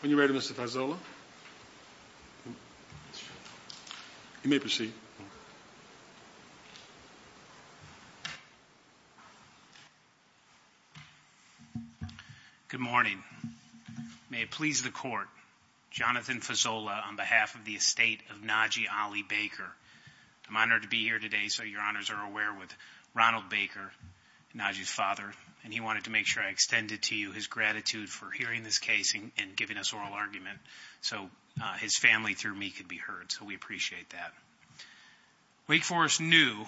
When you're ready Mr. Fazola. You may proceed. Good morning. May it please the court, Jonathan Fazola on behalf of the estate of Najee Ali Baker. I'm honored to be here today so your honors are aware with Ronald Baker, Najee's father, and he wanted to make sure I extended to you his and giving us oral argument so his family through me could be heard so we appreciate that. Wake Forest knew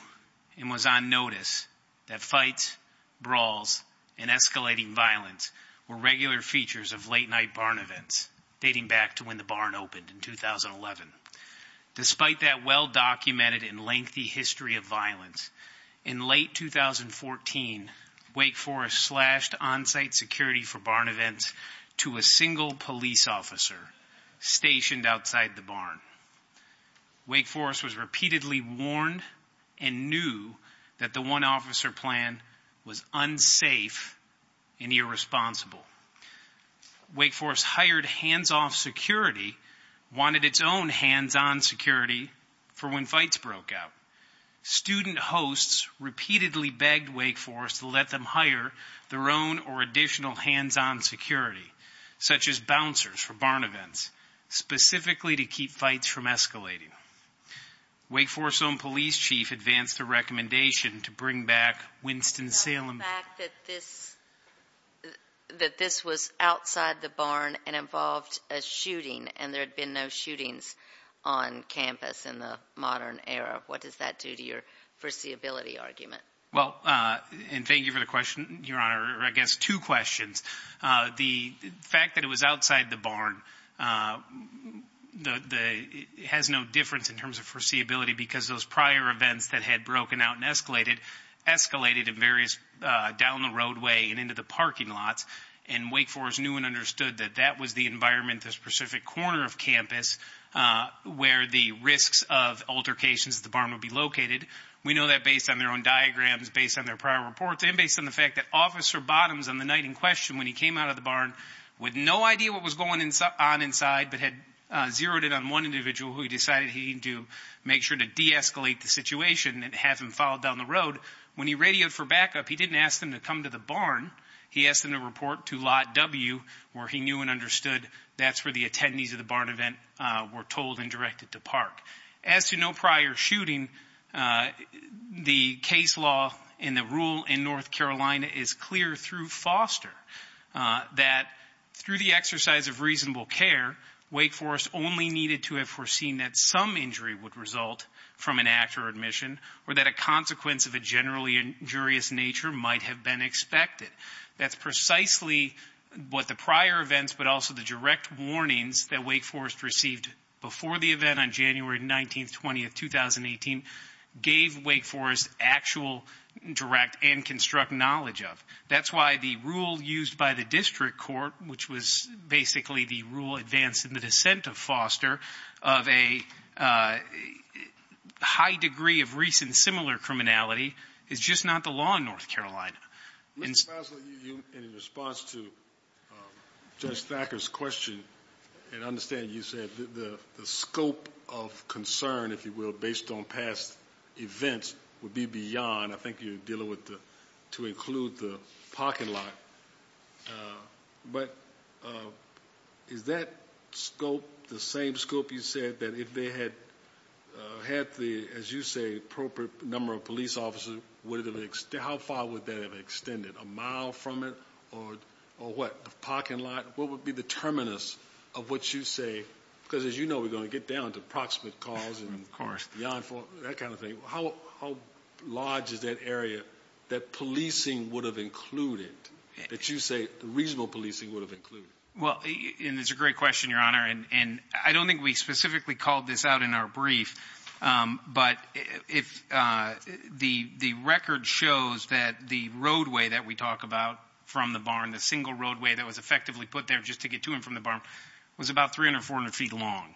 and was on notice that fights, brawls, and escalating violence were regular features of late-night barn events dating back to when the barn opened in 2011. Despite that well documented and lengthy history of violence, in late 2014, Wake Forest slashed on-site security for barn events to a single police officer stationed outside the barn. Wake Forest was repeatedly warned and knew that the one-officer plan was unsafe and irresponsible. Wake Forest hired hands-off security, wanted its own hands-on security for when fights broke out. Student hosts repeatedly begged Wake Forest to let them hire their own or additional hands-on security, such as bouncers for barn events, specifically to keep fights from escalating. Wake Forest's own police chief advanced a recommendation to bring back Winston-Salem. The fact that this that this was outside the barn and involved a shooting and there had been no shootings on campus in the modern era, what does that do to your foreseeability argument? Well, and thank you for the question, Your Honor, or I guess two questions. The fact that it was outside the barn has no difference in terms of foreseeability because those prior events that had broken out and escalated, escalated in various down the roadway and into the parking lots and Wake Forest knew and understood that that was the environment, the specific corner of campus where the risks of altercations at the barn would be located. We know that based on their own diagrams, based on their prior reports, and based on the fact that Officer Bottoms on the night in question when he came out of the barn with no idea what was going on inside but had zeroed in on one individual who he decided he needed to make sure to de-escalate the situation and have him followed down the road, when he radioed for backup he didn't ask them to come to the barn. He asked them to report to Lot W where he knew and understood that's where the attendees of the barn event were told and directed to park. As to no prior shooting, the case law and the rule in North Carolina is clear through Foster that through the exercise of reasonable care, Wake Forest only needed to have foreseen that some injury would result from an act or admission or that a consequence of a generally injurious nature might have been expected. That's precisely what the prior events but also the direct warnings that Wake Forest gave Wake Forest actual direct and construct knowledge of. That's why the rule used by the district court, which was basically the rule advanced in the dissent of Foster, of a high degree of recent similar criminality is just not the law in North Carolina. In response to Judge Thacker's question and I understand you said the scope of concern, if you will, based on past events would be beyond, I think you're dealing with, to include the parking lot, but is that scope the same scope you said that if they had had the, as you say, appropriate number of police officers, how far would that have extended? A mile from it or what? The parking lot? What would be the terminus of what you say, because as you know we're going to get down to proximate cause and beyond that kind of thing, how large is that area that policing would have included, that you say reasonable policing would have included? Well, it's a great question, Your Honor, and I don't think we specifically called this out in our brief, but if the record shows that the roadway that we talk about from the barn, the single roadway that was effectively put there just to get to and from the barn, was about 300 or 400 feet long,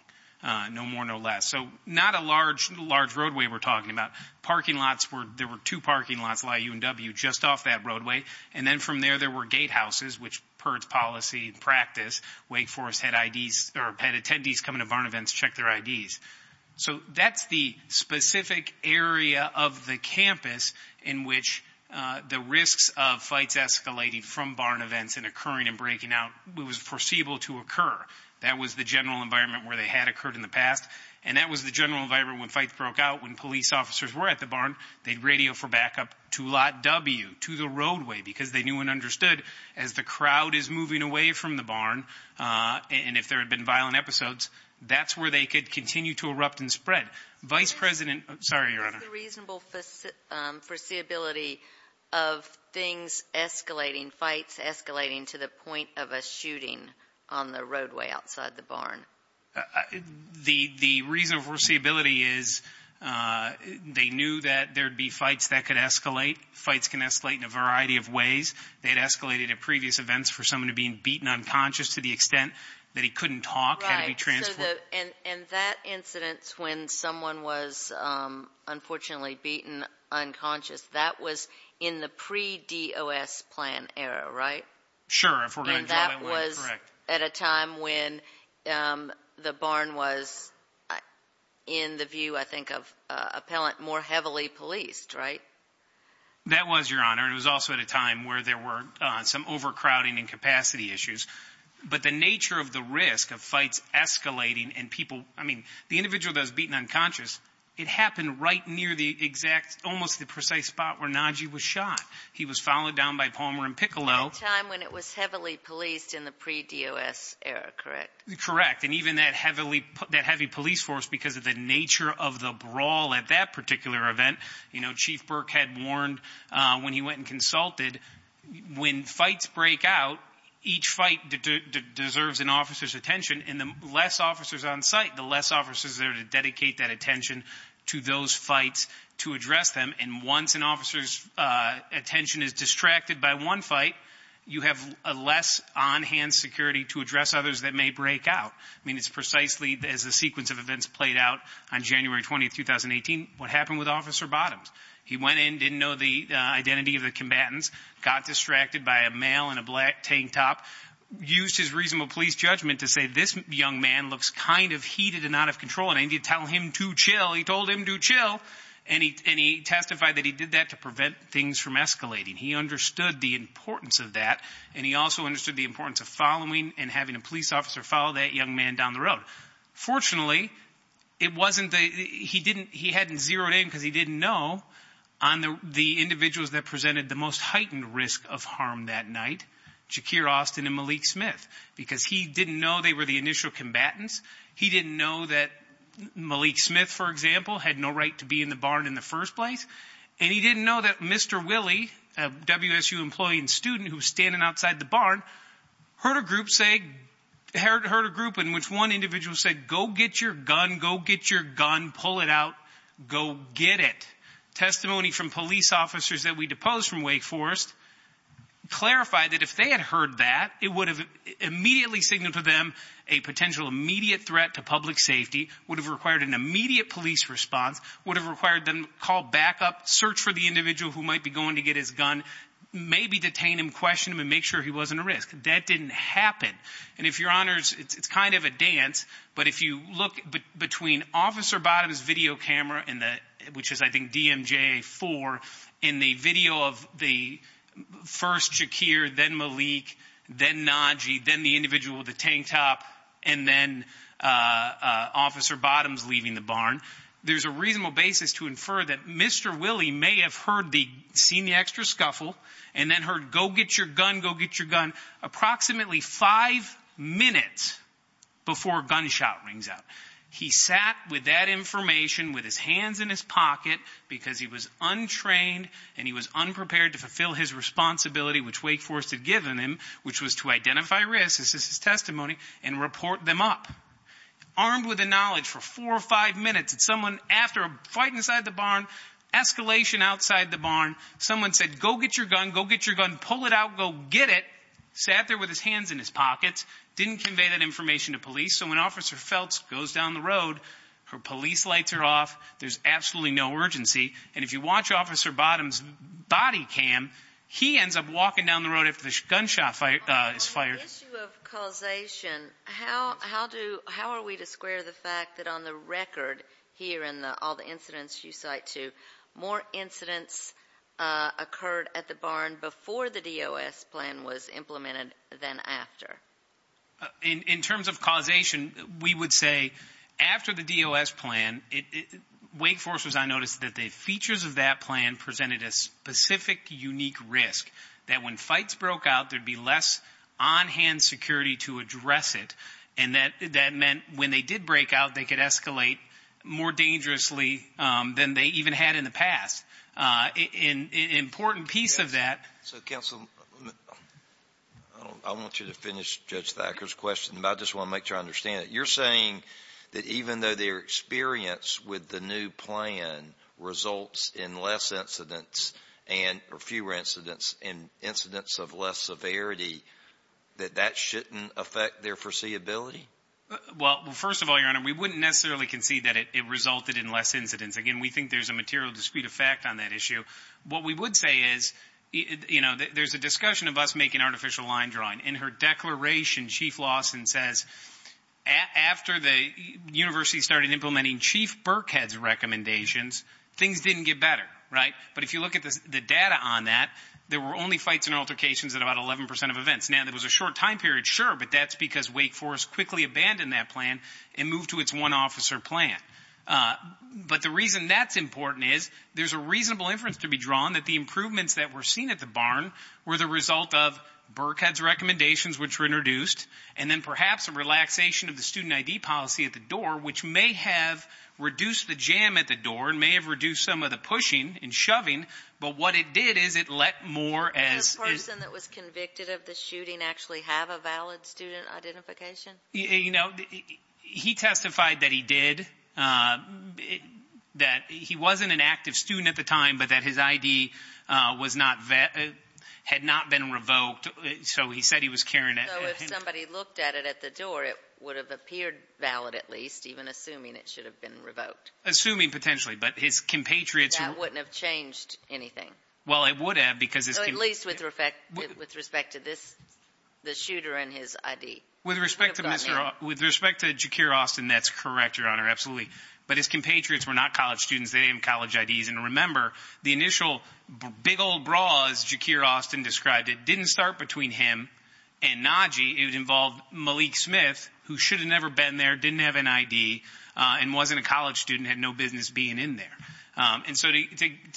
no more no less. So not a large large roadway we're talking about. Parking lots were, there were two parking lots, Y, U, and W, just off that roadway and then from there there were gatehouses which per its policy and practice, Wake Forest had IDs, or had attendees coming to barn events to check their IDs. So that's the specific area of the campus in which the risks of flights escalating from barn events and occurring and breaking out was foreseeable to occur. That was the general environment where they had occurred in the past, and that was the general environment when fights broke out, when police officers were at the barn, they'd radio for backup to lot W, to the roadway, because they knew and understood as the crowd is moving away from the barn, and if there had been violent episodes, that's where they could continue to erupt and spread. Vice President, sorry, Your Honor. Is the reasonable foreseeability of things escalating, fights escalating, to the point of a shooting on the roadway outside the barn? The reason for foreseeability is they knew that there'd be fights that could escalate. Fights can escalate in a variety of ways. They had escalated at previous events for someone to being beaten unconscious to the extent that he couldn't talk, had to be transported. And that incidents when someone was unfortunately beaten unconscious, that was in the pre D. O. S. Plan era, right? Sure. If we're going that was at a time when the barn was in the view, I think of appellant more heavily policed, right? That was your honor. It was also at a time where there were some overcrowding and capacity issues. But the nature of the risk of fights escalating and people, I mean, the individual does beaten unconscious. It happened right near the exact, almost the precise spot where Nagy was shot. He was followed down by Palmer and Piccolo time when it was heavily policed in the pre D. O. S. Era. Correct, correct. And even that heavily that heavy police force, because of the nature of the brawl at that particular event, you know, Chief Burke had warned when he went and consulted when fights break out. Each fight deserves an officer's attention in the less officers on site, the less officers there to dedicate that attention to those fights to address them. And once an officer's attention is distracted by one fight, you have a less on hand security to address others that may break out. I mean, it's precisely as a sequence of events played out on January 20, 2018. What happened with Officer Bottoms? He went in, didn't know the identity of the tank top, used his reasonable police judgment to say this young man looks kind of heated and out of control and I need to tell him to chill. He told him to chill and he testified that he did that to prevent things from escalating. He understood the importance of that and he also understood the importance of following and having a police officer follow that young man down the road. Fortunately, it wasn't that he didn't. He hadn't zeroed in because he didn't know on the individuals that presented the most heightened risk of harm that night, Shakir Austin and Malik Smith, because he didn't know they were the initial combatants. He didn't know that Malik Smith, for example, had no right to be in the barn in the first place. And he didn't know that Mr Willie, W. S. U. Employee and student who's standing outside the barn, heard a group saying, heard a group in which one individual said, go get your gun, go get your gun, pull it out, go get it. Testimony from police officers that we that if they had heard that it would have immediately signaled to them a potential immediate threat to public safety, would have required an immediate police response, would have required them call back up, search for the individual who might be going to get his gun, maybe detain him, question him and make sure he wasn't a risk. That didn't happen. And if your honors, it's kind of a dance. But if you look between Officer Bottoms video camera in which is, I think, DMJ four in the video of the first Shakir, then Malik, then Najee, then the individual, the tank top and then Officer Bottoms leaving the barn. There's a reasonable basis to infer that Mr Willie may have heard the seen the extra scuffle and then heard, go get your gun, go get your gun approximately five minutes before gunshot rings out. He sat with that in his pocket because he was untrained and he was unprepared to fulfill his responsibility, which Wake Forest had given him, which was to identify risks as his testimony and report them up armed with the knowledge for four or five minutes. It's someone after a fight inside the barn, escalation outside the barn. Someone said, go get your gun, go get your gun, pull it out, go get it. Sat there with his hands in his pockets. Didn't convey that information to police. So when Officer Feltz goes down the road, her police lights are off. There's absolutely no urgency. And if you watch Officer Bottoms body cam, he ends up walking down the road. If the gunshot is fired, causation. How? How do? How are we to square the fact that on the record here in all the incidents you cite to more incidents occurred at the barn before the D. O. S. Plan was implemented. Then after in terms of Wake Foresters, I noticed that the features of that plan presented a specific, unique risk that when fights broke out, there'd be less on hand security to address it. And that that meant when they did break out, they could escalate more dangerously than they even had in the past. Uh, important piece of that. So, Council, I want you to finish Judge Thacker's question about this one. Make sure I with the new plan results in less incidents and fewer incidents and incidents of less severity that that shouldn't affect their foreseeability. Well, first of all, your honor, we wouldn't necessarily concede that it resulted in less incidents again. We think there's a material dispute effect on that issue. What we would say is, you know, there's a discussion of us making artificial line drawing in her declaration. Chief Lawson says after the Burkhead's recommendations, things didn't get better, right? But if you look at the data on that, there were only fights and altercations at about 11% of events. Now, there was a short time period, sure, but that's because Wake Forest quickly abandoned that plan and moved to its one officer plan. But the reason that's important is there's a reasonable inference to be drawn that the improvements that were seen at the barn were the result of Burkhead's recommendations, which were introduced and then perhaps a relaxation of the reduced the jam at the door and may have reduced some of the pushing and shoving. But what it did is it let more as a person that was convicted of the shooting actually have a valid student identification. You know, he testified that he did, uh, that he wasn't an active student at the time, but that his I. D. Was not had not been revoked. So he said he was carrying it. If somebody looked at it at the door, it would have appeared valid, at least even assuming it should have been revoked, assuming potentially, but his compatriots wouldn't have changed anything. Well, it would have, because it's at least with respect with respect to this, the shooter in his I. D. With respect to Mr. With respect to secure Austin, that's correct. Your honor. Absolutely. But his compatriots were not college students. They didn't college I. D. S. And remember the initial big old bra is secure. Austin described it didn't start between him and Nagy. It involved Malik Smith, who should have never been there, didn't have an I. D. And wasn't a college student had no business being in there. Um, and so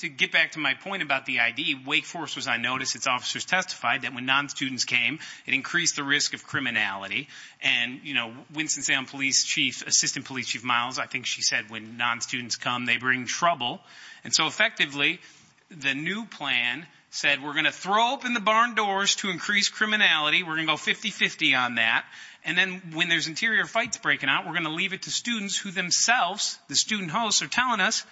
to get back to my point about the I. D. Wake Forest was I noticed its officers testified that when non students came, it increased the risk of criminality. And, you know, Winston Sam Police Chief Assistant Police Chief Miles. I think she said when non students come, they bring trouble. And so effectively, the new plan said we're gonna throw up in the barn doors to increase criminality. We're gonna go 50 50 on that. And then when there's interior fights breaking out, we're gonna leave it to students who themselves the student hosts are telling us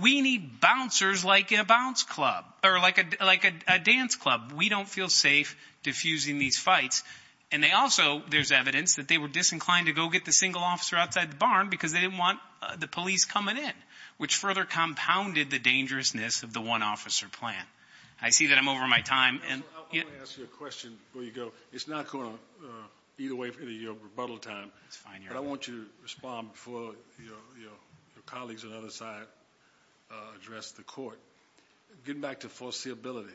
we need bouncers like a bounce club or like a like a dance club. We don't feel safe diffusing these fights. And they also there's evidence that they were disinclined to go get the single officer outside the barn because they didn't want the police coming in, which further compounded the dangerousness of the one officer plan. I see that I'm over my time and I'll ask you a question where you go. It's not going on either way for the rebuttal time. It's fine. I want you to respond for your colleagues and other side address the court getting back to foreseeability.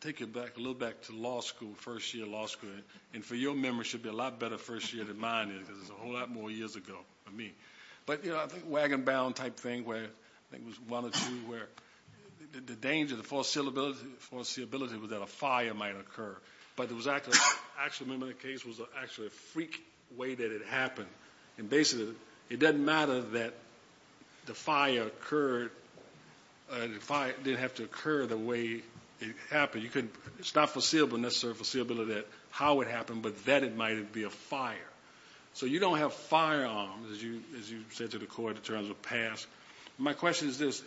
Take it back a little back to law school. First year law school. And for your members should be a lot better first year than mine is. There's a whole lot more years ago for me. But, you know, I think wagon bound type thing where it was that a fire might occur. But it was actually actually remember the case was actually a freak way that it happened. And basically it doesn't matter that the fire occurred. Uh, if I didn't have to occur the way it happened, you couldn't stop foreseeable necessary foreseeability that how it happened, but that it might be a fire. So you don't have firearms as you as you said to the court in terms of past. My question is this.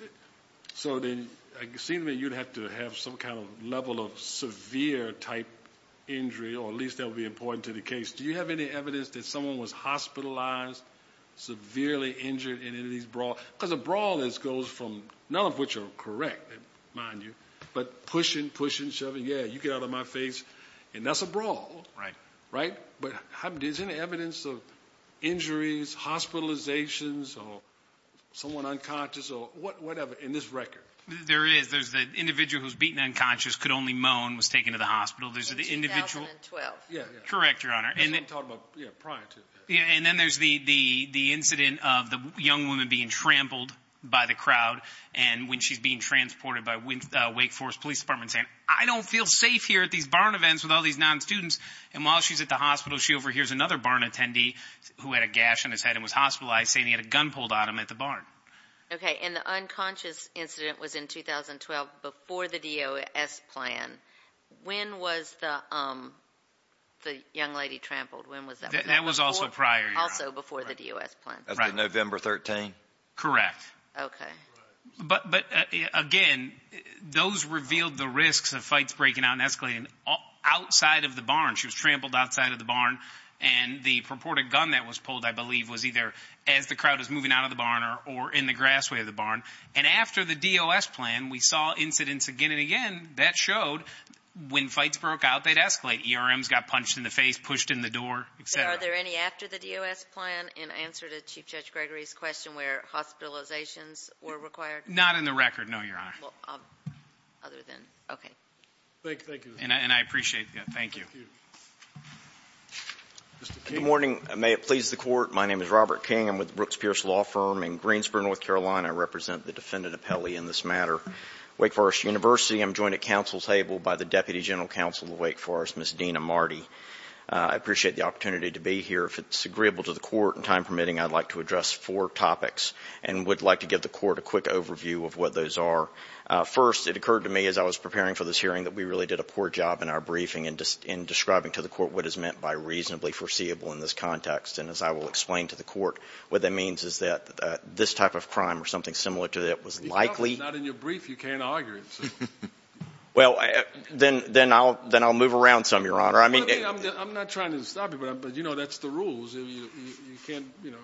So then it seemed that you'd have to have some kind of level of severe type injury, or at least that would be important to the case. Do you have any evidence that someone was hospitalized, severely injured in any of these brawl because the brawl is goes from none of which are correct mind you, but pushing, pushing, shoving. Yeah, you get out of my face and that's a brawl, right? Right. But how is any evidence of injuries, hospitalizations or someone unconscious or whatever in this record? There is. There's the individual who's beaten unconscious, could only moan, was taken to the hospital. There's the individual. Yeah, correct. Your honor. And then talk about prior to. And then there's the incident of the young woman being trampled by the crowd. And when she's being transported by Wake Forest Police Department saying, I don't feel safe here at these barn events with all these non students. And while she's at the hospital, she overhears another barn attendee who had a gash in his head and was hospitalized, saying he had a gun pulled out him at the barn. Okay. And the unconscious incident was in 2012 before the D.O.S. plan. When was the young lady trampled? When was that? That was also prior. Also before the D.O.S. plan. November 13. Correct. Okay. But again, those revealed the risks of fights breaking out and escalating outside of the barn. She was trampled outside of the barn. And the purported gun that was pulled, I believe, was either as the crowd is moving out of the barn or in the grassway of the barn. And after the D.O.S. plan, we saw incidents again and again that showed when fights broke out, they'd escalate. ERMs got punched in the face, pushed in the door, etc. Are there any after the D.O.S. plan in answer to Chief Judge Gregory's question where hospitalizations were required? Not in the record. No, your honor. Other than. Okay. Thank you. And I appreciate that. Thank you. Good morning. May it please the court. My name is Robert King. I'm with Brooks Pierce Law Firm in Greensboro, North Carolina. I represent the defendant appellee in this matter. Wake Forest University. I'm joined at counsel's table by the Deputy General Counsel of Wake Forest, Ms. Dina Marty. I appreciate the opportunity to be here. If it's agreeable to the court and time permitting, I'd like to address four topics and would like to give the court a quick overview of what those are. First, it occurred to me as I was preparing for this hearing that we really did a poor job in our briefing in describing to the court what is meant by reasonably foreseeable in this context. The first thing I'd like to talk about is what reasonably foreseeable means. And what that means is that this type of crime or something similar to that was likely. If it's not in your brief, you can't argue it. Well, then I'll move around some, your honor. I mean. I'm not trying to stop you, but you know that's the rules. You can't, you know,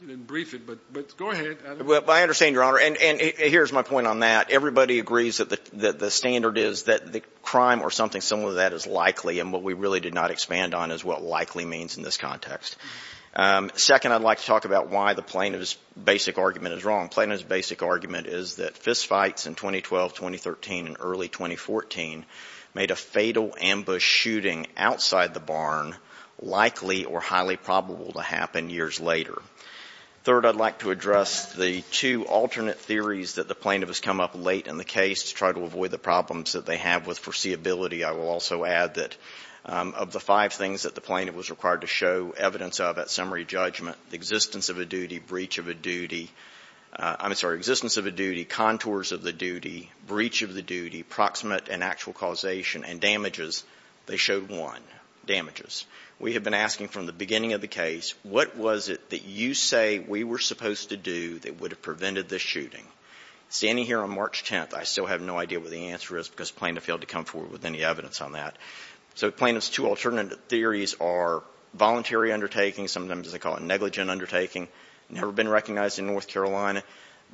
you didn't brief it, but go ahead. I understand, your honor. And here's my point on that. Everybody agrees that the standard is that the crime or something similar to that is likely and what we really did not expand on is what likely means in this context. Second, I'd like to address why the plaintiff's basic argument is wrong. Plaintiff's basic argument is that fistfights in 2012, 2013, and early 2014 made a fatal ambush shooting outside the barn likely or highly probable to happen years later. Third, I'd like to address the two alternate theories that the plaintiff has come up late in the case to try to avoid the problems that they have with foreseeability. I will also add that of the five things that the plaintiff was required to show evidence of at summary judgment, the existence of a duty, contours of the duty, breach of the duty, proximate and actual causation, and damages, they showed one, damages. We have been asking from the beginning of the case, what was it that you say we were supposed to do that would have prevented this shooting? Standing here on March 10th, I still have no idea what the answer is because the plaintiff failed to come forward with any evidence on that. So the plaintiff's two alternate theories are voluntary undertaking, sometimes they call it negligent undertaking, and never been recognized in North Carolina.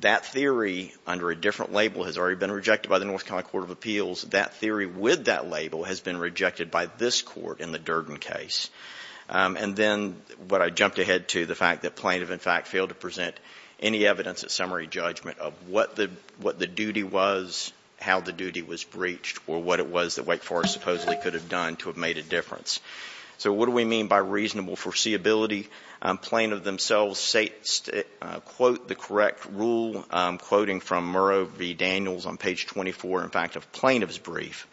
That theory under a different label has already been rejected by the North Carolina Court of Appeals. That theory with that label has been rejected by this court in the Durden case. And then what I jumped ahead to, the fact that plaintiff, in fact, failed to present any evidence at summary judgment of what the duty was, how the duty was breached, or what it was that Wake Forest supposedly could have done to have made a difference. So what do we mean by reasonable foreseeability. Plaintiff themselves say that they were not able to quote the correct rule, quoting from Murrow v. Daniels on page 24, in fact, of plaintiff's brief.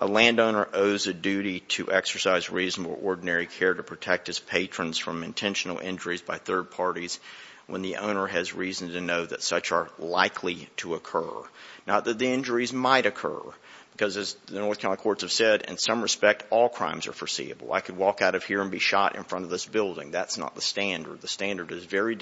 A landowner owes a duty to exercise reasonable ordinary care to protect his patrons from intentional injuries by third parties when the owner has reason to know that such are likely to occur. Not that the injuries might occur. Because as the North Carolina courts have said, in some respect, all crimes are foreseeable. I could walk out of here and be shot in front of this building. That's not the standard. The fact that there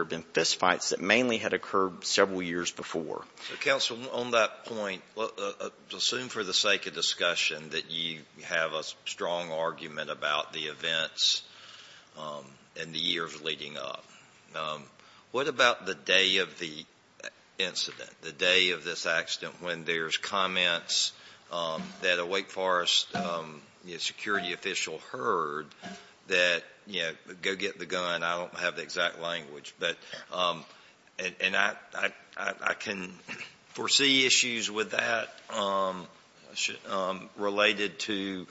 have been fistfights that mainly had occurred several years before. V. GEN. CODY, BYRD. So, counsel, on that point, assume for the sake of discussion that you have a strong argument about the events in the years leading up. What about the day of the incident, the day of this accident when there's comments that a Wake Forest security official heard that, you know, go get the gun? I don't have the exact language. But, and I can foresee issues with that related to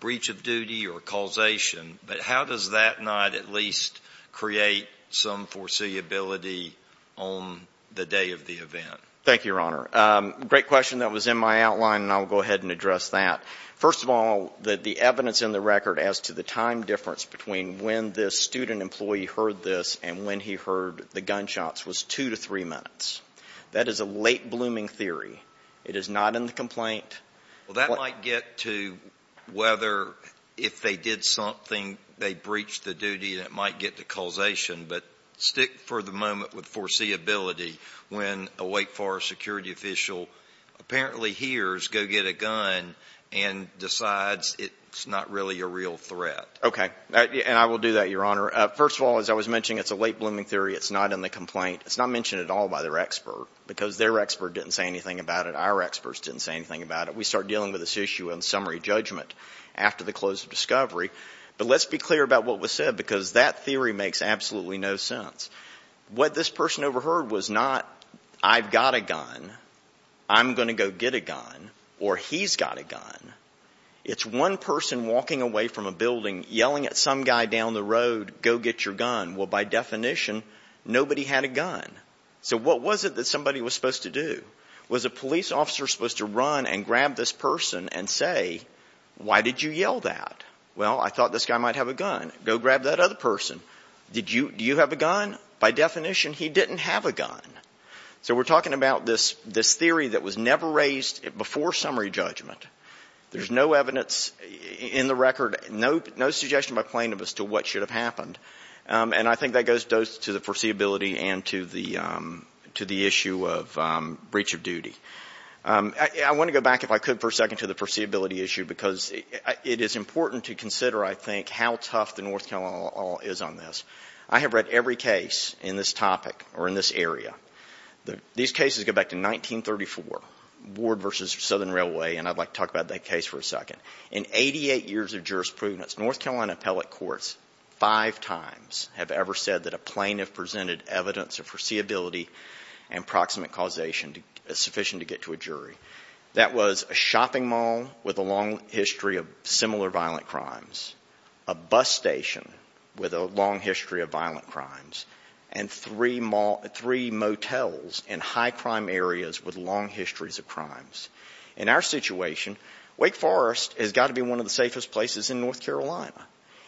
breach of duty or causation. But how does that not at least create some foreseeability on the day of the event? Thank you, Your Honor. Great question. That was in my outline, and I'll go ahead and address that. First of all, the evidence in the record as to the time difference between when this student employee heard this and when he heard the gunshots was two to three minutes. That is a late-blooming theory. It is not in the complaint. Well, that might get to whether if they did something, they breached the duty, and it might get to causation. But stick for the moment with foreseeability when a Wake Forest security official apparently hears go get a gun and decides it's not really a real threat. Okay. And I will do that, Your Honor. First of all, as I was mentioning, it's a late-blooming theory. It's not in the complaint. It's not mentioned at all by their expert, because their expert didn't say anything about it. Our experts didn't say anything about it. We start dealing with this issue in summary judgment after the close of discovery. But let's be clear about what was said, because that theory makes absolutely no sense. What this person overheard was not I've got a gun, I'm going to go get a gun, or he's got a gun. It's one person walking away from a building yelling at some guy down the road, go get your gun. Well, by definition, nobody had a gun. So what was it that somebody was supposed to do? Was a police officer supposed to run and grab this person and say, why did you yell that? Well, I thought this guy might have a gun. Go grab that other person. Do you have a gun? By definition, he didn't have a gun. So we're talking about this theory that was never raised before summary judgment. There's no evidence in the record, no suggestion by plaintiffs as to what should have happened. And I think that goes to the foreseeability and to the issue of breach of duty. I want to go back, if I could, for a second, to the foreseeability issue, because it is important to consider, I think, how tough the North Carolina law is on this. I have read every case in this topic or in this area. These cases go back to 1934, Ward v. Southern Provenance. North Carolina appellate courts five times have ever said that a plaintiff presented evidence of foreseeability and proximate causation sufficient to get to a jury. That was a shopping mall with a long history of similar violent crimes, a bus station with a long history of violent crimes, and three motels in high crime areas with long histories of crimes. In our situation, Wake Forest has got to be one of the safest places in North Carolina.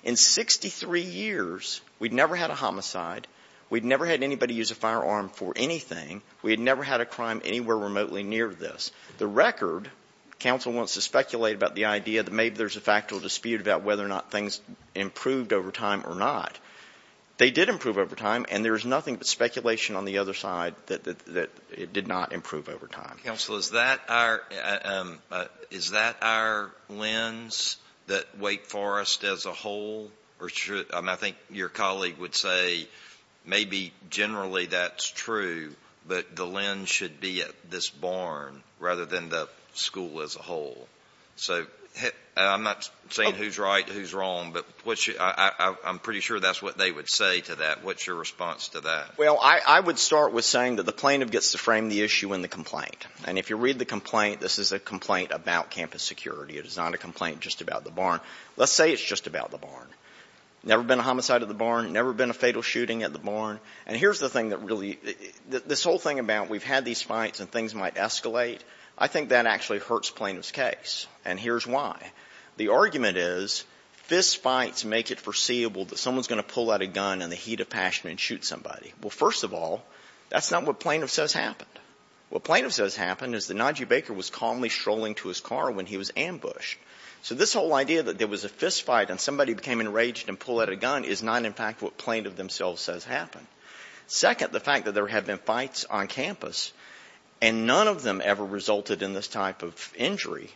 In 63 years, we've never had a homicide, we've never had anybody use a firearm for anything, we've never had a crime anywhere remotely near this. The record, counsel wants to speculate about the idea that maybe there's a factual dispute about whether or not things improved over time or not. They did improve over time, and there's nothing but speculation on the other side that it did not improve over time. Alito, is that our lens that Wake Forest as a whole or should – I think your colleague would say maybe generally that's true, but the lens should be at this barn rather than the school as a whole. So I'm not saying who's right, who's wrong, but I'm pretty sure that's what they would say to that. What's your response to that? Well, I would start with saying that the plaintiff gets to frame the issue in the complaint. And if you read the complaint, this is a complaint about campus security. It is not a complaint just about the barn. Let's say it's just about the barn. Never been a homicide at the barn, never been a fatal shooting at the barn. And here's the thing that really – this whole thing about we've had these fights and things might escalate, I think that actually hurts plaintiff's case, and here's why. The argument is fistfights make it foreseeable that someone's going to pull out a gun in the heat of passion and shoot somebody. Well, first of all, that's not what plaintiff says happened. What plaintiff says happened is that Najib Baker was calmly strolling to his car when he was ambushed. So this whole idea that there was a fistfight and somebody became enraged and pulled out a gun is not in fact what plaintiff themselves says happened. Second, the fact that there have been fights on campus and none of them ever resulted in this type of injury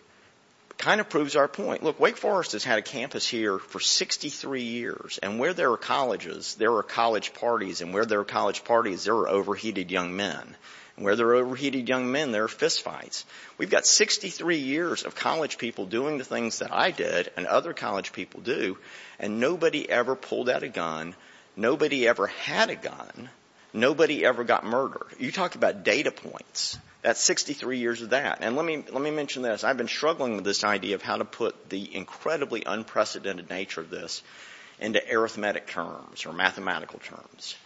kind of proves our point. Look, Wake Forest has had a campus here for 63 years. And where there are colleges, there are college parties. And where there are college parties, there are overheated young men. And where there are overheated young men, there are fistfights. We've got 63 years of college people doing the things that I did and other college people do, and nobody ever pulled out a gun. Nobody ever had a gun. Nobody ever got murdered. You talk about data points. That's 63 years of that. And let me mention this. I've been struggling with this idea of how to put the incredibly unprecedented nature of this into arithmetic terms or mathematical terms.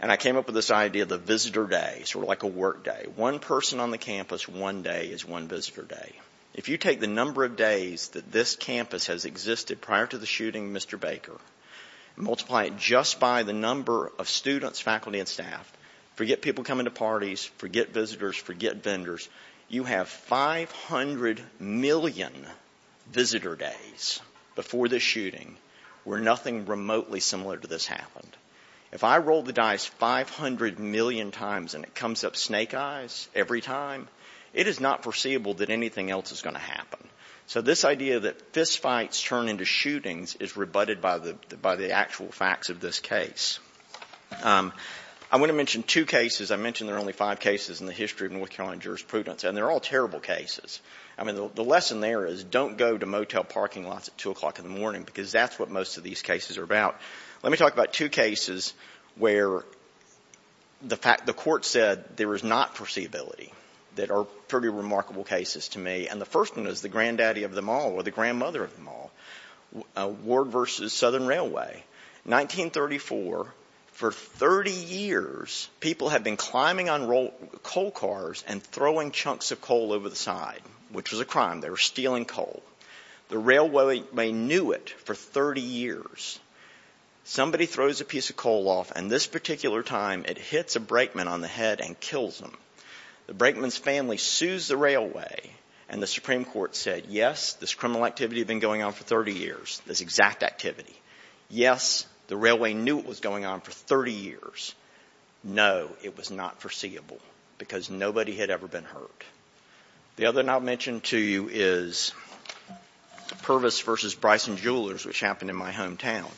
And I came up with this idea of the visitor day, sort of like a work day. One person on the campus one day is one visitor day. If you take the number of days that this campus has existed prior to the shooting of Mr. Baker, multiply it just by the number of students, faculty and staff, forget people coming to parties, forget visitors, forget vendors, you have 500 million visitor days before the shooting where nothing remotely similar to this happened. If I rolled the dice 500 million times and it comes up snake eyes every time, it is not foreseeable that anything else is going to happen. So this idea that fistfights turn into shootings is rebutted by the actual facts of this case. I want to talk about two cases. I mentioned there are only five cases in the history of North Carolina jurisprudence and they are all terrible cases. The lesson there is don't go to motel parking lots at 2 o'clock in the morning because that's what most of these cases are about. Let me talk about two cases where the court said there is not foreseeability that are pretty remarkable cases to me. And the first one is the granddaddy of them all or the grandmother of them all, Ward versus Southern Railway. 1934, for 30 years, people have been climbing on coal cars and throwing chunks of coal over the side, which was a crime. They were stealing coal. The railway knew it for 30 years. Somebody throws a piece of coal off and this particular time it hits a brakeman on the head and kills him. The brakeman's family sues the railway and the Supreme Court said yes, this criminal activity had been going on for 30 years, this exact activity. Yes, the railway knew it was going on for 30 years. No, it was not foreseeable because nobody had ever been hurt. The other one I'll mention to you is Purvis versus Bryson Jewelers, which happened in my hometown.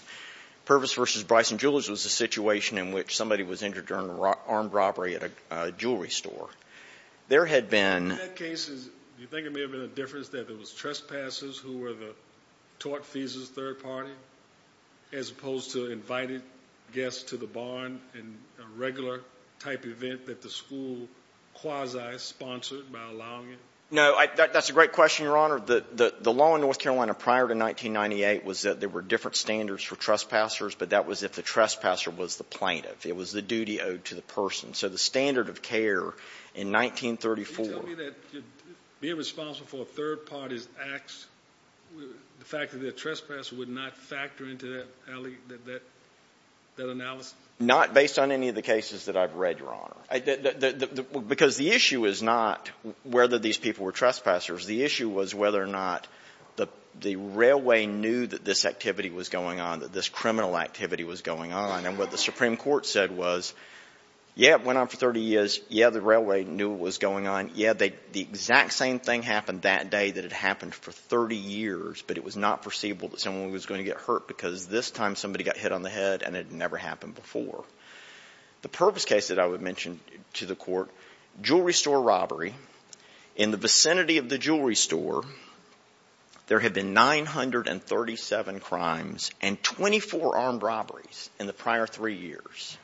Purvis versus Bryson Jewelers was a situation in which somebody was injured during an armed robbery at a jewelry store. There had been a number of cases in that case. Do you think it may have been a difference that there was trespassers who were the tort thesis third party as opposed to invited guests to the barn and a regular type event that the school quasi-sponsored by allowing it? No, that's a great question, Your Honor. The law in North Carolina prior to 1998 was that there were different standards for trespassers, but that was if the trespasser was the plaintiff. It was the duty owed to the person. So the standard of care in 1934. Can you tell me that being responsible for a third party's acts, the fact that the trespasser would not factor into that analysis? Not based on any of the cases that I've read, Your Honor. Because the issue is not whether these people were trespassers. The issue was whether or not the railway knew that this activity was going on, that this criminal activity was going on. And what the Supreme Court said was, yeah, it went on for 30 years. Yeah, the railway knew it was going on. Yeah, the exact same thing happened that day that had happened for 30 years, but it was not foreseeable that someone was going to get hurt because this time somebody got hit on the head and it had never happened before. The purpose case that I would mention to the Court, jewelry store robbery. In the vicinity of the jewelry store, there have been 937 crimes and 24 armed robberies in the prior three years.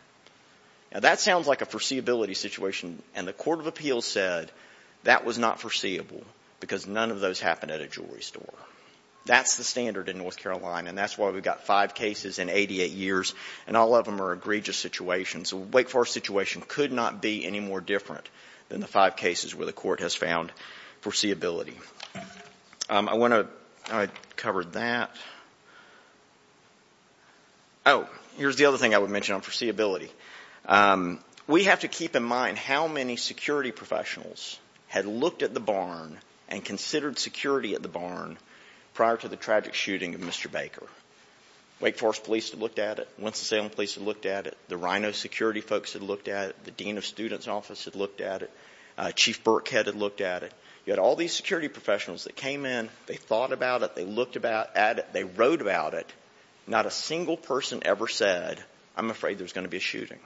Now, that sounds like a foreseeability situation, and the Court of Appeals said that was not foreseeable because none of those happened at a jewelry store. That's the standard in North Carolina, and that's why we've got five cases in 88 years, and all of them are egregious situations. The Wake Forest situation could not be any more different than the five cases where the Court has found foreseeability. I want to cover that. Oh, here's the other thing I would mention on foreseeability. We have to keep in mind how many security professionals had looked at the barn and considered security at the barn prior to the tragic shooting of Mr. Baker. Wake Forest police had looked at it. Winston-Salem police had looked at it. Chief Burkhead had looked at it. You had all these security professionals that came in, they thought about it, they looked at it, they wrote about it. Not a single person ever said, I'm afraid there's going to be a shooting.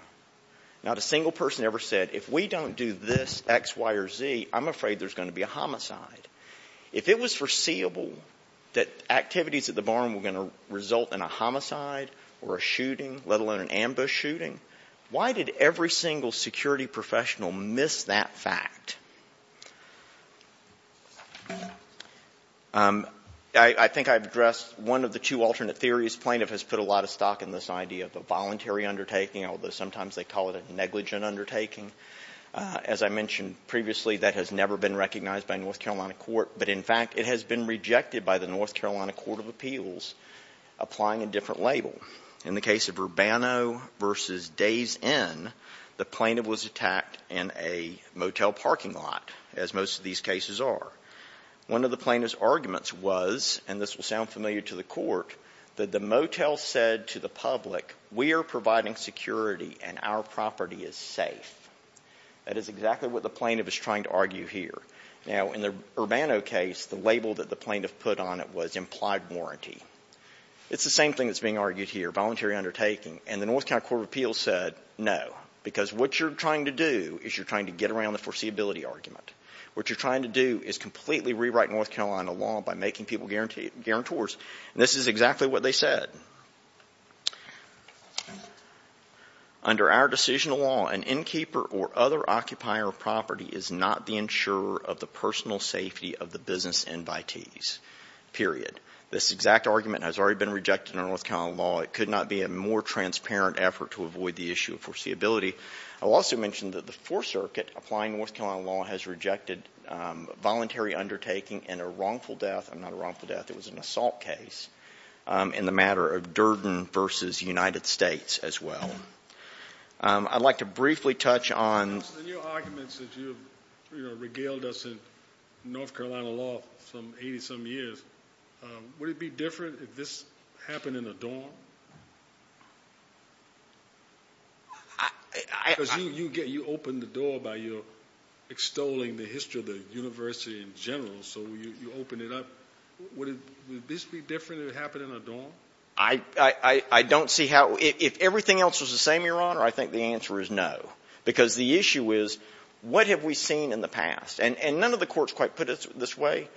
Not a single person ever said, if we don't do this X, Y, or Z, I'm afraid there's going to be a homicide. If it was foreseeable that activities at the barn were going to result in a homicide or a shooting, let alone an ambush shooting, why did every single security professional miss that fact? I think I've addressed one of the two alternate theories. Plaintiff has put a lot of stock in this idea of the voluntary undertaking, although sometimes they call it a negligent undertaking. As I mentioned previously, that has never been recognized by a North Carolina court of appeals applying a different label. In the case of Urbano v. Days Inn, the plaintiff was attacked in a motel parking lot, as most of these cases are. One of the plaintiff's arguments was, and this will sound familiar to the court, that the motel said to the public, we are providing security and our property is safe. That is exactly what the plaintiff is trying to argue here. Now, in the Urbano case, the label that the plaintiff put on it was implied warranty. It's the same thing that's being argued here, voluntary undertaking. And the North Carolina court of appeals said no, because what you're trying to do is you're trying to get around the foreseeability argument. What you're trying to do is completely rewrite North Carolina law by making people guarantors. And this is exactly what they said. Under our decisional law, an innkeeper or other occupier of property is not the insurer of the personal safety of the business invitees, period. This exact argument has already been rejected in North Carolina law. It could not be a more transparent effort to avoid the issue of foreseeability. I'll also mention that the Fourth Circuit, applying North Carolina law, has rejected voluntary undertaking and a wrongful death. Not a wrongful death. It was an assault case in the matter of Durden v. United States as well. I'd like to briefly touch on... In your arguments that you regaled us in North Carolina law for 80-some years, would it be different if this happened in a dorm? Because you opened the door by extolling the history of the university in general, so you opened it up. Would this be different if it happened in a dorm? I don't see how... If everything else was the same, Your Honor, I think the answer is no. Because the issue is, what have we seen in the past? And none of the courts quite put it this way,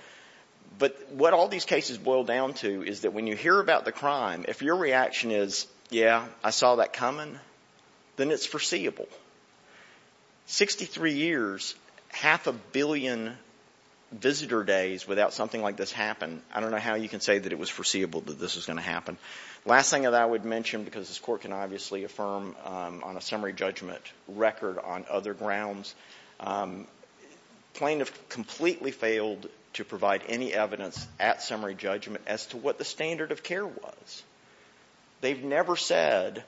but what all these cases boil down to is that when you hear about the crime, if your reaction is, yeah, I saw that coming, then it's foreseeable. Sixty-three years, half a billion visitor days without something like this happen, I don't know how you can say that it was foreseeable that this was going to happen. Last thing that I would mention, because this Court can obviously affirm on a summary judgment record on other grounds, Plaintiff completely failed to provide any evidence at summary judgment as to what the standard of care was. They've never said...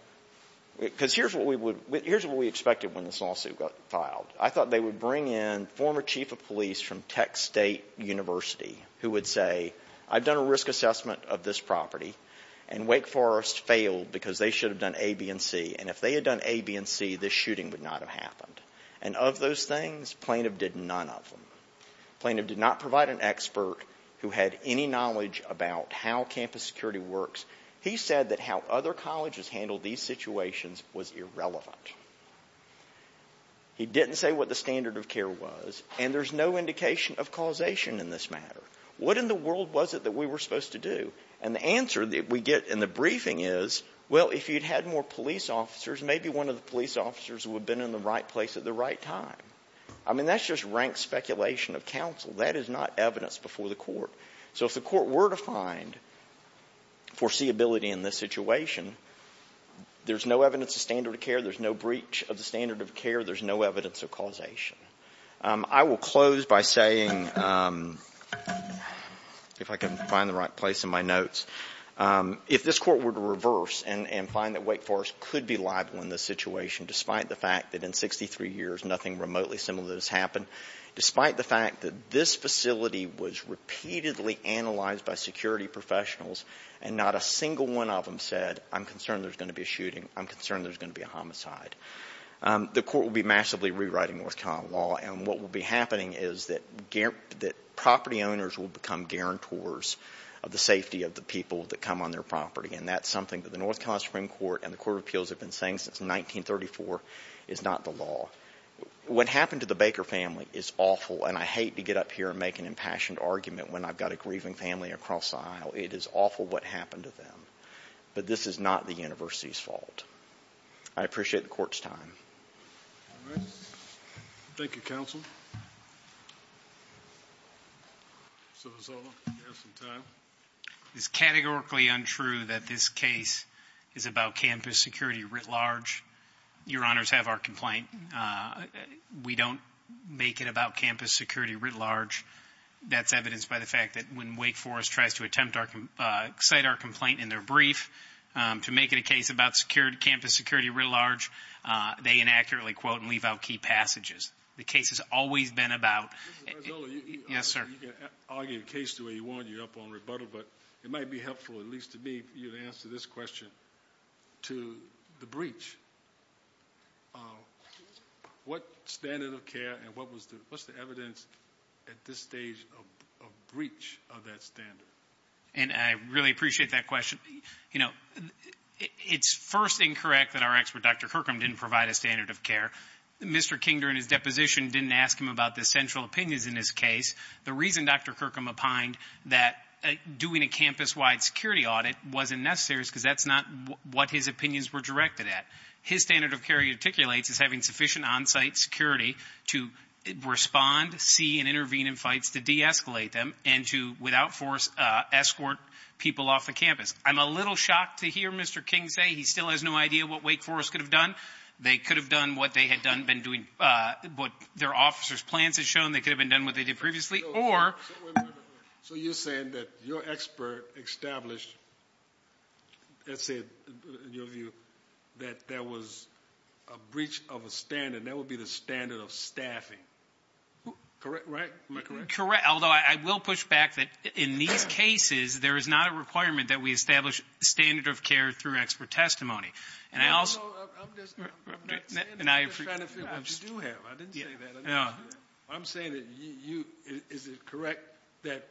Because here's what we would... Here's what we expected when this lawsuit got filed. I thought they would bring in former chief of police from Tech State University, who would say, I've done a risk assessment of this property, and Wake Forest failed because they should have done A, B, and C. And if they had done A, B, and C, this shooting would not have happened. And of those things, Plaintiff did none of them. Plaintiff did not provide an expert who had any knowledge about how campus security works. He said that how other than to say what the standard of care was, and there's no indication of causation in this matter. What in the world was it that we were supposed to do? And the answer that we get in the briefing is, well, if you'd had more police officers, maybe one of the police officers would have been in the right place at the right time. I mean, that's just rank speculation of counsel. That is not evidence before the Court. So if the situation, despite the fact that in 63 years nothing remotely similar has happened, despite the fact that this facility was repeatedly analyzed by security professionals and not a single one of them said, I'm concerned there's going to be a shooting, I'm concerned there's going to be a homicide, the Court will be massively rewriting North Carolina law. And what will be happening is that property owners will become guarantors of the safety of the people that come on their property. And that's something that the North Carolina Supreme Court and the Court of Appeals have been saying since 1934 is not the law. What happened to the Baker family is awful. And I hate to get up here and make an impassioned argument when I've got a grieving family across the aisle. It is awful what happened to them. But this is not the University's fault. I appreciate the Court's time. Thank you, Counsel. Senator Soto, you have some time. It's categorically untrue that this case is about campus security writ large. Your Honors have our complaint. We don't make it about campus security writ large. That's evidenced by the fact that when Wake Forest tries to cite our complaint in their brief to make it a case about campus security writ large, they inaccurately quote and leave out key passages. The case has always been about... You can argue the case the way you want. You're up on rebuttal. But it might be helpful, at least to me, for you to answer this question to the breach. What standard of care and what breach of that standard? It's first incorrect that our expert, Dr. Kirkham, didn't provide a standard of care. Mr. King, during his deposition, didn't ask him about the central opinions in this case. The reason Dr. Kirkham opined that doing a campus-wide security audit wasn't necessary is because that's not what his opinions were directed at. His standard of care he articulates is having sufficient on-site security to respond, see, and intervene in fights to de-escalate them and to, without force, escort people off the campus. I'm a little shocked to hear Mr. King say he still has no idea what Wake Forest could have done. They could have done what they had been doing, what their officers' plans had shown. They could have been done what they did previously. So you're saying that your expert established, let's say, in your view, that there was a breach of a standard. That would be the standard of staffing, right? Am I correct? Correct, although I will push back that in these cases, there is not a requirement that we establish standard of care through expert testimony. And I also... I'm just trying to figure out what you do have. I didn't say that. I'm saying that you, is it correct that,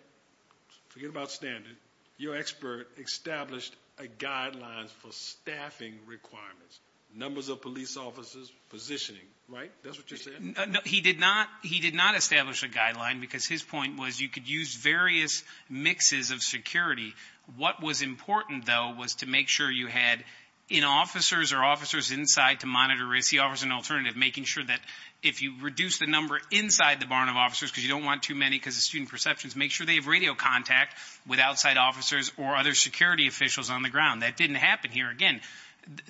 forget about standard, your expert established a guideline for staffing requirements. Numbers of police officers, positioning, right? That's what you said? He did not establish a guideline because his point was you could use various mixes of security. What was important, though, was to make sure you had officers or officers inside to monitor risk. He offers an alternative, making sure that if you reduce the number inside the barn of officers, because you don't want too many, because of student perceptions, make sure they have radio contact with outside officers or other security officials on the ground. That didn't happen here. Again,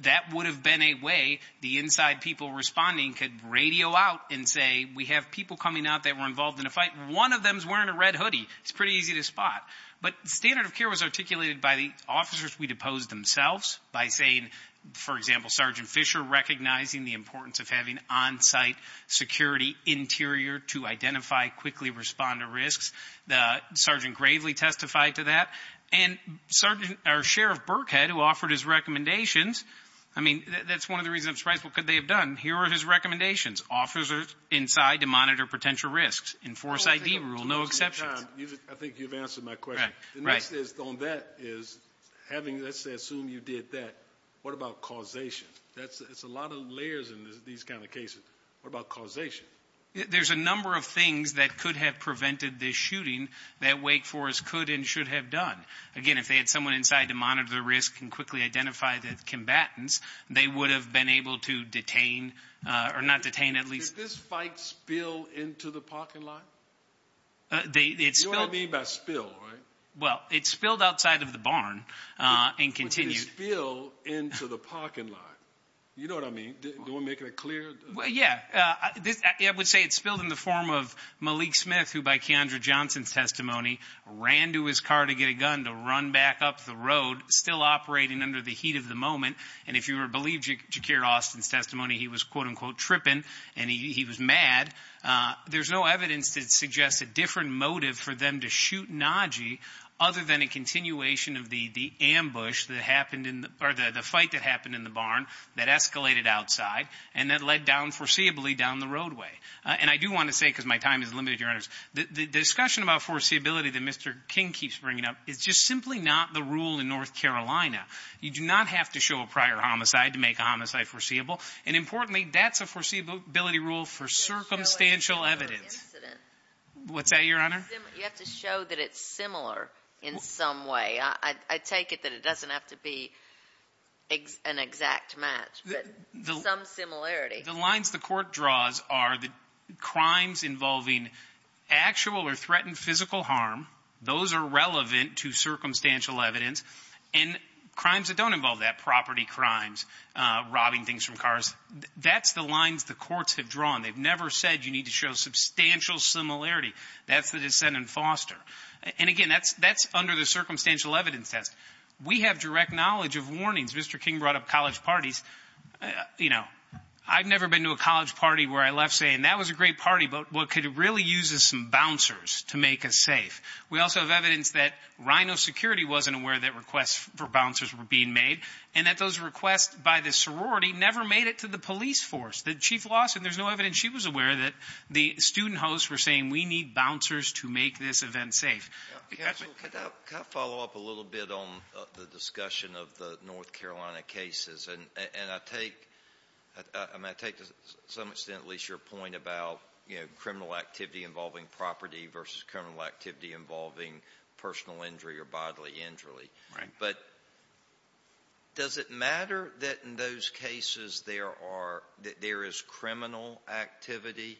that would have been a way the inside people responding could radio out and say, we have people coming out that were involved in a fight. One of them is wearing a red hoodie. It's pretty easy to spot. But standard of care was articulated by the officers we deposed themselves by saying, for example, Sergeant Fisher recognizing the importance of having on-site security interior to identify, quickly respond to risks. Sergeant Gravely testified to that. And our Sheriff Burkhead, who offered his recommendations, I mean, that's one of the reasons I'm surprised. What could they have done? Here are his recommendations. Officers inside to monitor potential risks. Enforce ID rule, no exceptions. I think you've answered my question. The next is on that is having, let's assume you did that, what about causation? That's a lot of layers in these kind of cases. What about causation? There's a number of things that could have prevented this shooting that Wake Forest could and should have done. Again, if they had someone inside to monitor the risk and quickly identify the combatants, they would have been able to detain, or not detain, at least. Did this fight spill into the parking lot? You know what I mean by spill, right? Well, it spilled outside of the barn and continued. But did it spill into the parking lot? You know what I mean? Do you want to make that clear? Yeah. I would say it spilled in the form of Malik Smith, who by Keondra Johnson's testimony, ran to his car to get a gun to run back up the road, still operating under the heat of the moment. And if you believe Ja'Kerr Austin's testimony, he was, quote-unquote, tripping and he was mad, there's no evidence that suggests a different motive for them to shoot Najee, other than a continuation of the fight that happened in the barn that escalated outside and that led down foreseeably down the roadway. And I do want to say, because my time is limited, Your Honors, the discussion about foreseeability that Mr. King keeps bringing up is just simply not the rule in North Carolina. You do not have to show a prior homicide to make a homicide foreseeable. And importantly, that's a foreseeability rule for circumstantial evidence. What's that, Your Honor? You have to show that it's similar in some way. I take it that it doesn't have to be an exact match, but some similarity. The lines the court draws are that crimes involving actual or threatened physical harm, those are relevant to circumstantial evidence, and crimes that don't involve that, property crimes, robbing things from cars, that's the lines the courts have drawn. They've never said you need to show substantial similarity. That's the dissent in Foster. And again, that's under the circumstantial evidence test. We have direct knowledge of warnings. Mr. King brought up college parties. I've never been to a college party where I left saying, that was a great party, but what could it really use is some bouncers to make us safe. We also have evidence that Rhino Security wasn't aware that requests for bouncers were being made, and that those requests by the sorority never made it to the police force. The Chief Lawson, there's no evidence she was aware that the student hosts were saying, we need bouncers to make this event safe. Can I follow up a little bit on the discussion of the North Carolina cases? And I take to some extent at least your point about criminal activity involving property versus criminal activity involving personal injury or bodily injury. But does it matter that in those cases there is criminal activity?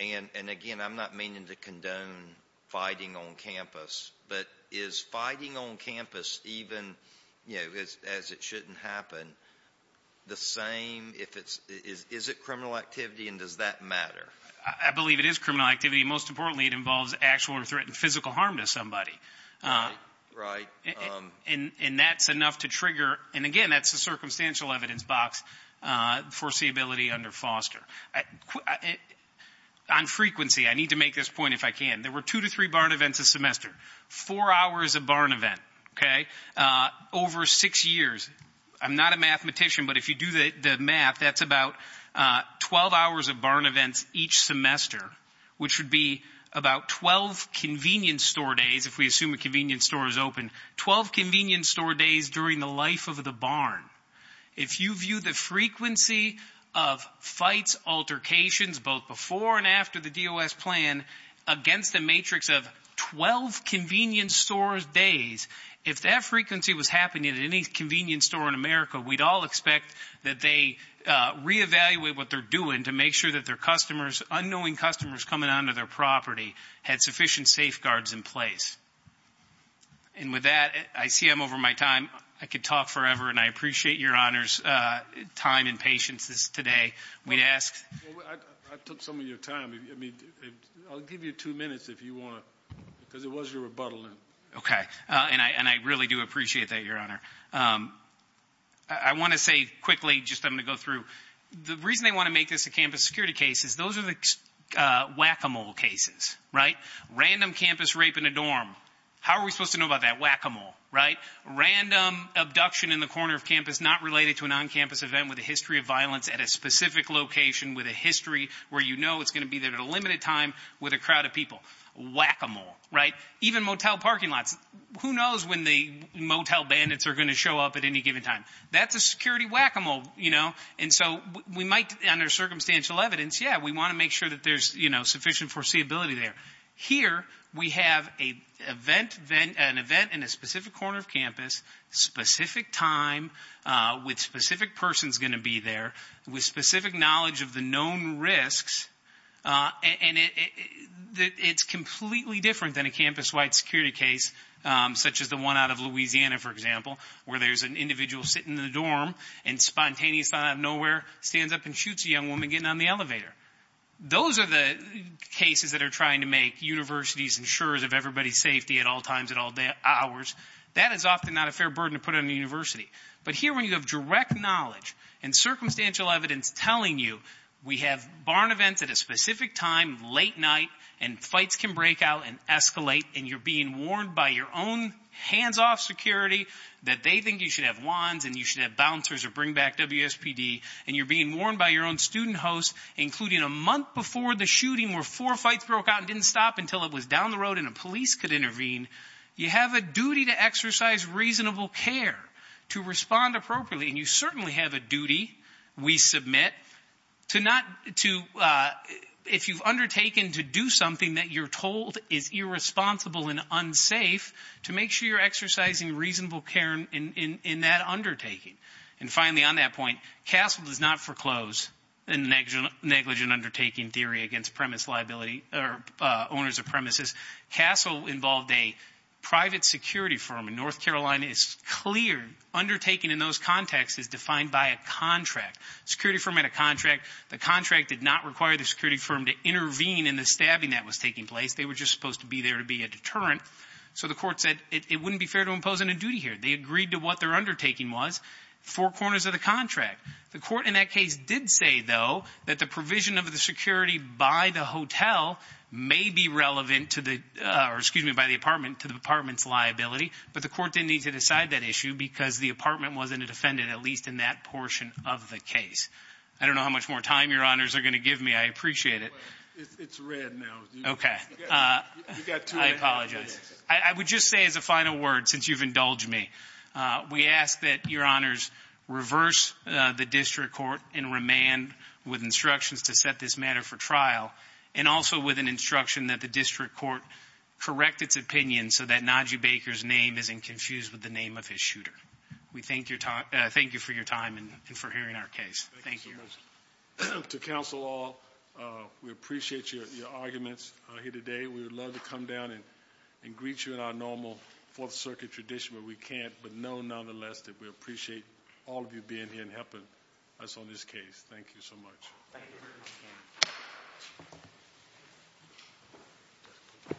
And again, I'm not meaning to condone fighting on campus. But is fighting on campus, even as it shouldn't happen, the same? Is it criminal activity and does that matter? I believe it is criminal activity. Most importantly, it involves actual or threatened physical harm to somebody. And that's enough to trigger, and again, that's the circumstantial evidence box, foreseeability under Foster. On frequency, I need to make this point if I can. There were two to three barn events a semester, four hours a barn event, okay, over six years. I'm not a mathematician, but if you do the math, that's about 12 hours of barn events each semester, which would be about 12 convenience store days, if we assume a convenience store is open, 12 convenience store days during the life of the barn. If you view the frequency of fights, altercations, both before and after the DOS plan, against a matrix of 12 convenience store days, if that frequency was happening at any convenience store in America, we'd all expect that they reevaluate what they're doing to make sure that their customers, unknowing customers coming onto their property had sufficient safeguards in place. And with that, I see I'm over my time. I could talk forever, and I appreciate Your Honor's time and patience today. I took some of your time. I'll give you two minutes if you want, because it was your rebuttal. Okay. And I really do appreciate that, Your Honor. I want to say quickly, just I'm going to go through, the reason I want to make this a campus security case is those are the whack-a-mole cases, right? How are we supposed to know about that? Whack-a-mole, right? Random abduction in the corner of campus not related to an on-campus event with a history of violence at a specific location with a history where you know it's going to be there at a limited time with a crowd of people. Whack-a-mole, right? Even motel parking lots. Who knows when the motel bandits are going to show up at any given time? That's a security whack-a-mole, you know? And so we might, under circumstantial evidence, yeah, we want to make sure that there's sufficient foreseeability there. Here, we have an event in a specific corner of campus, specific time, with specific persons going to be there, with specific knowledge of the known risks, and it's completely different than a campus-wide security case such as the one out of Louisiana, for example, where there's an individual sitting in a dorm and spontaneously out of nowhere stands up and shoots a young woman getting on the elevator. Those are the cases that are trying to make universities insurers of everybody's safety at all times, at all hours. That is often not a fair burden to put on a university. But here, when you have direct knowledge and circumstantial evidence telling you, we have barn events at a specific time, late night, and fights can break out and escalate, and you're being warned by your own hands-off security that they think you should have wands and you should have bouncers or bring back WSPD, and you're being warned by your own student host, including a month before the shooting where four fights broke out and didn't stop until it was down the road and a police could intervene, you have a duty to exercise reasonable care, to respond appropriately, and you certainly have a duty, we submit, if you've undertaken to do something that you're told is irresponsible and unsafe, to make sure you're exercising reasonable care in that undertaking. And finally, on that point, CASEL does not foreclose a negligent undertaking theory against premise liability or owners of premises. CASEL involved a private security firm in North Carolina. It's clear undertaking in those contexts is defined by a contract. The security firm had a contract. The contract did not require the security firm to intervene in the stabbing that was taking place. They were just supposed to be there to be a deterrent, so the court said it wouldn't be fair to impose on a duty here. They agreed to what their undertaking was, four corners of the contract. The court in that case did say, though, that the provision of the security by the hotel may be relevant to the, or excuse me, by the apartment, to the apartment's liability, but the court didn't need to decide that issue because the apartment wasn't a defendant, at least in that portion of the case. I don't know how much more time your honors are going to give me. I appreciate it. It's red now. Okay. I apologize. I would just say as a final word, since you've indulged me, we ask that your honors reverse the district court and remand with instructions to set this matter for trial, and also with an instruction that the district court correct its opinion so that Najib Baker's name isn't confused with the name of his shooter. We thank you for your time and for hearing our case. Thank you. To counsel all, we appreciate your arguments here today. We would love to come down and greet you in our normal Fourth Circuit tradition, but we can't, but know nonetheless that we appreciate all of you being here and helping us on this case. Thank you so much.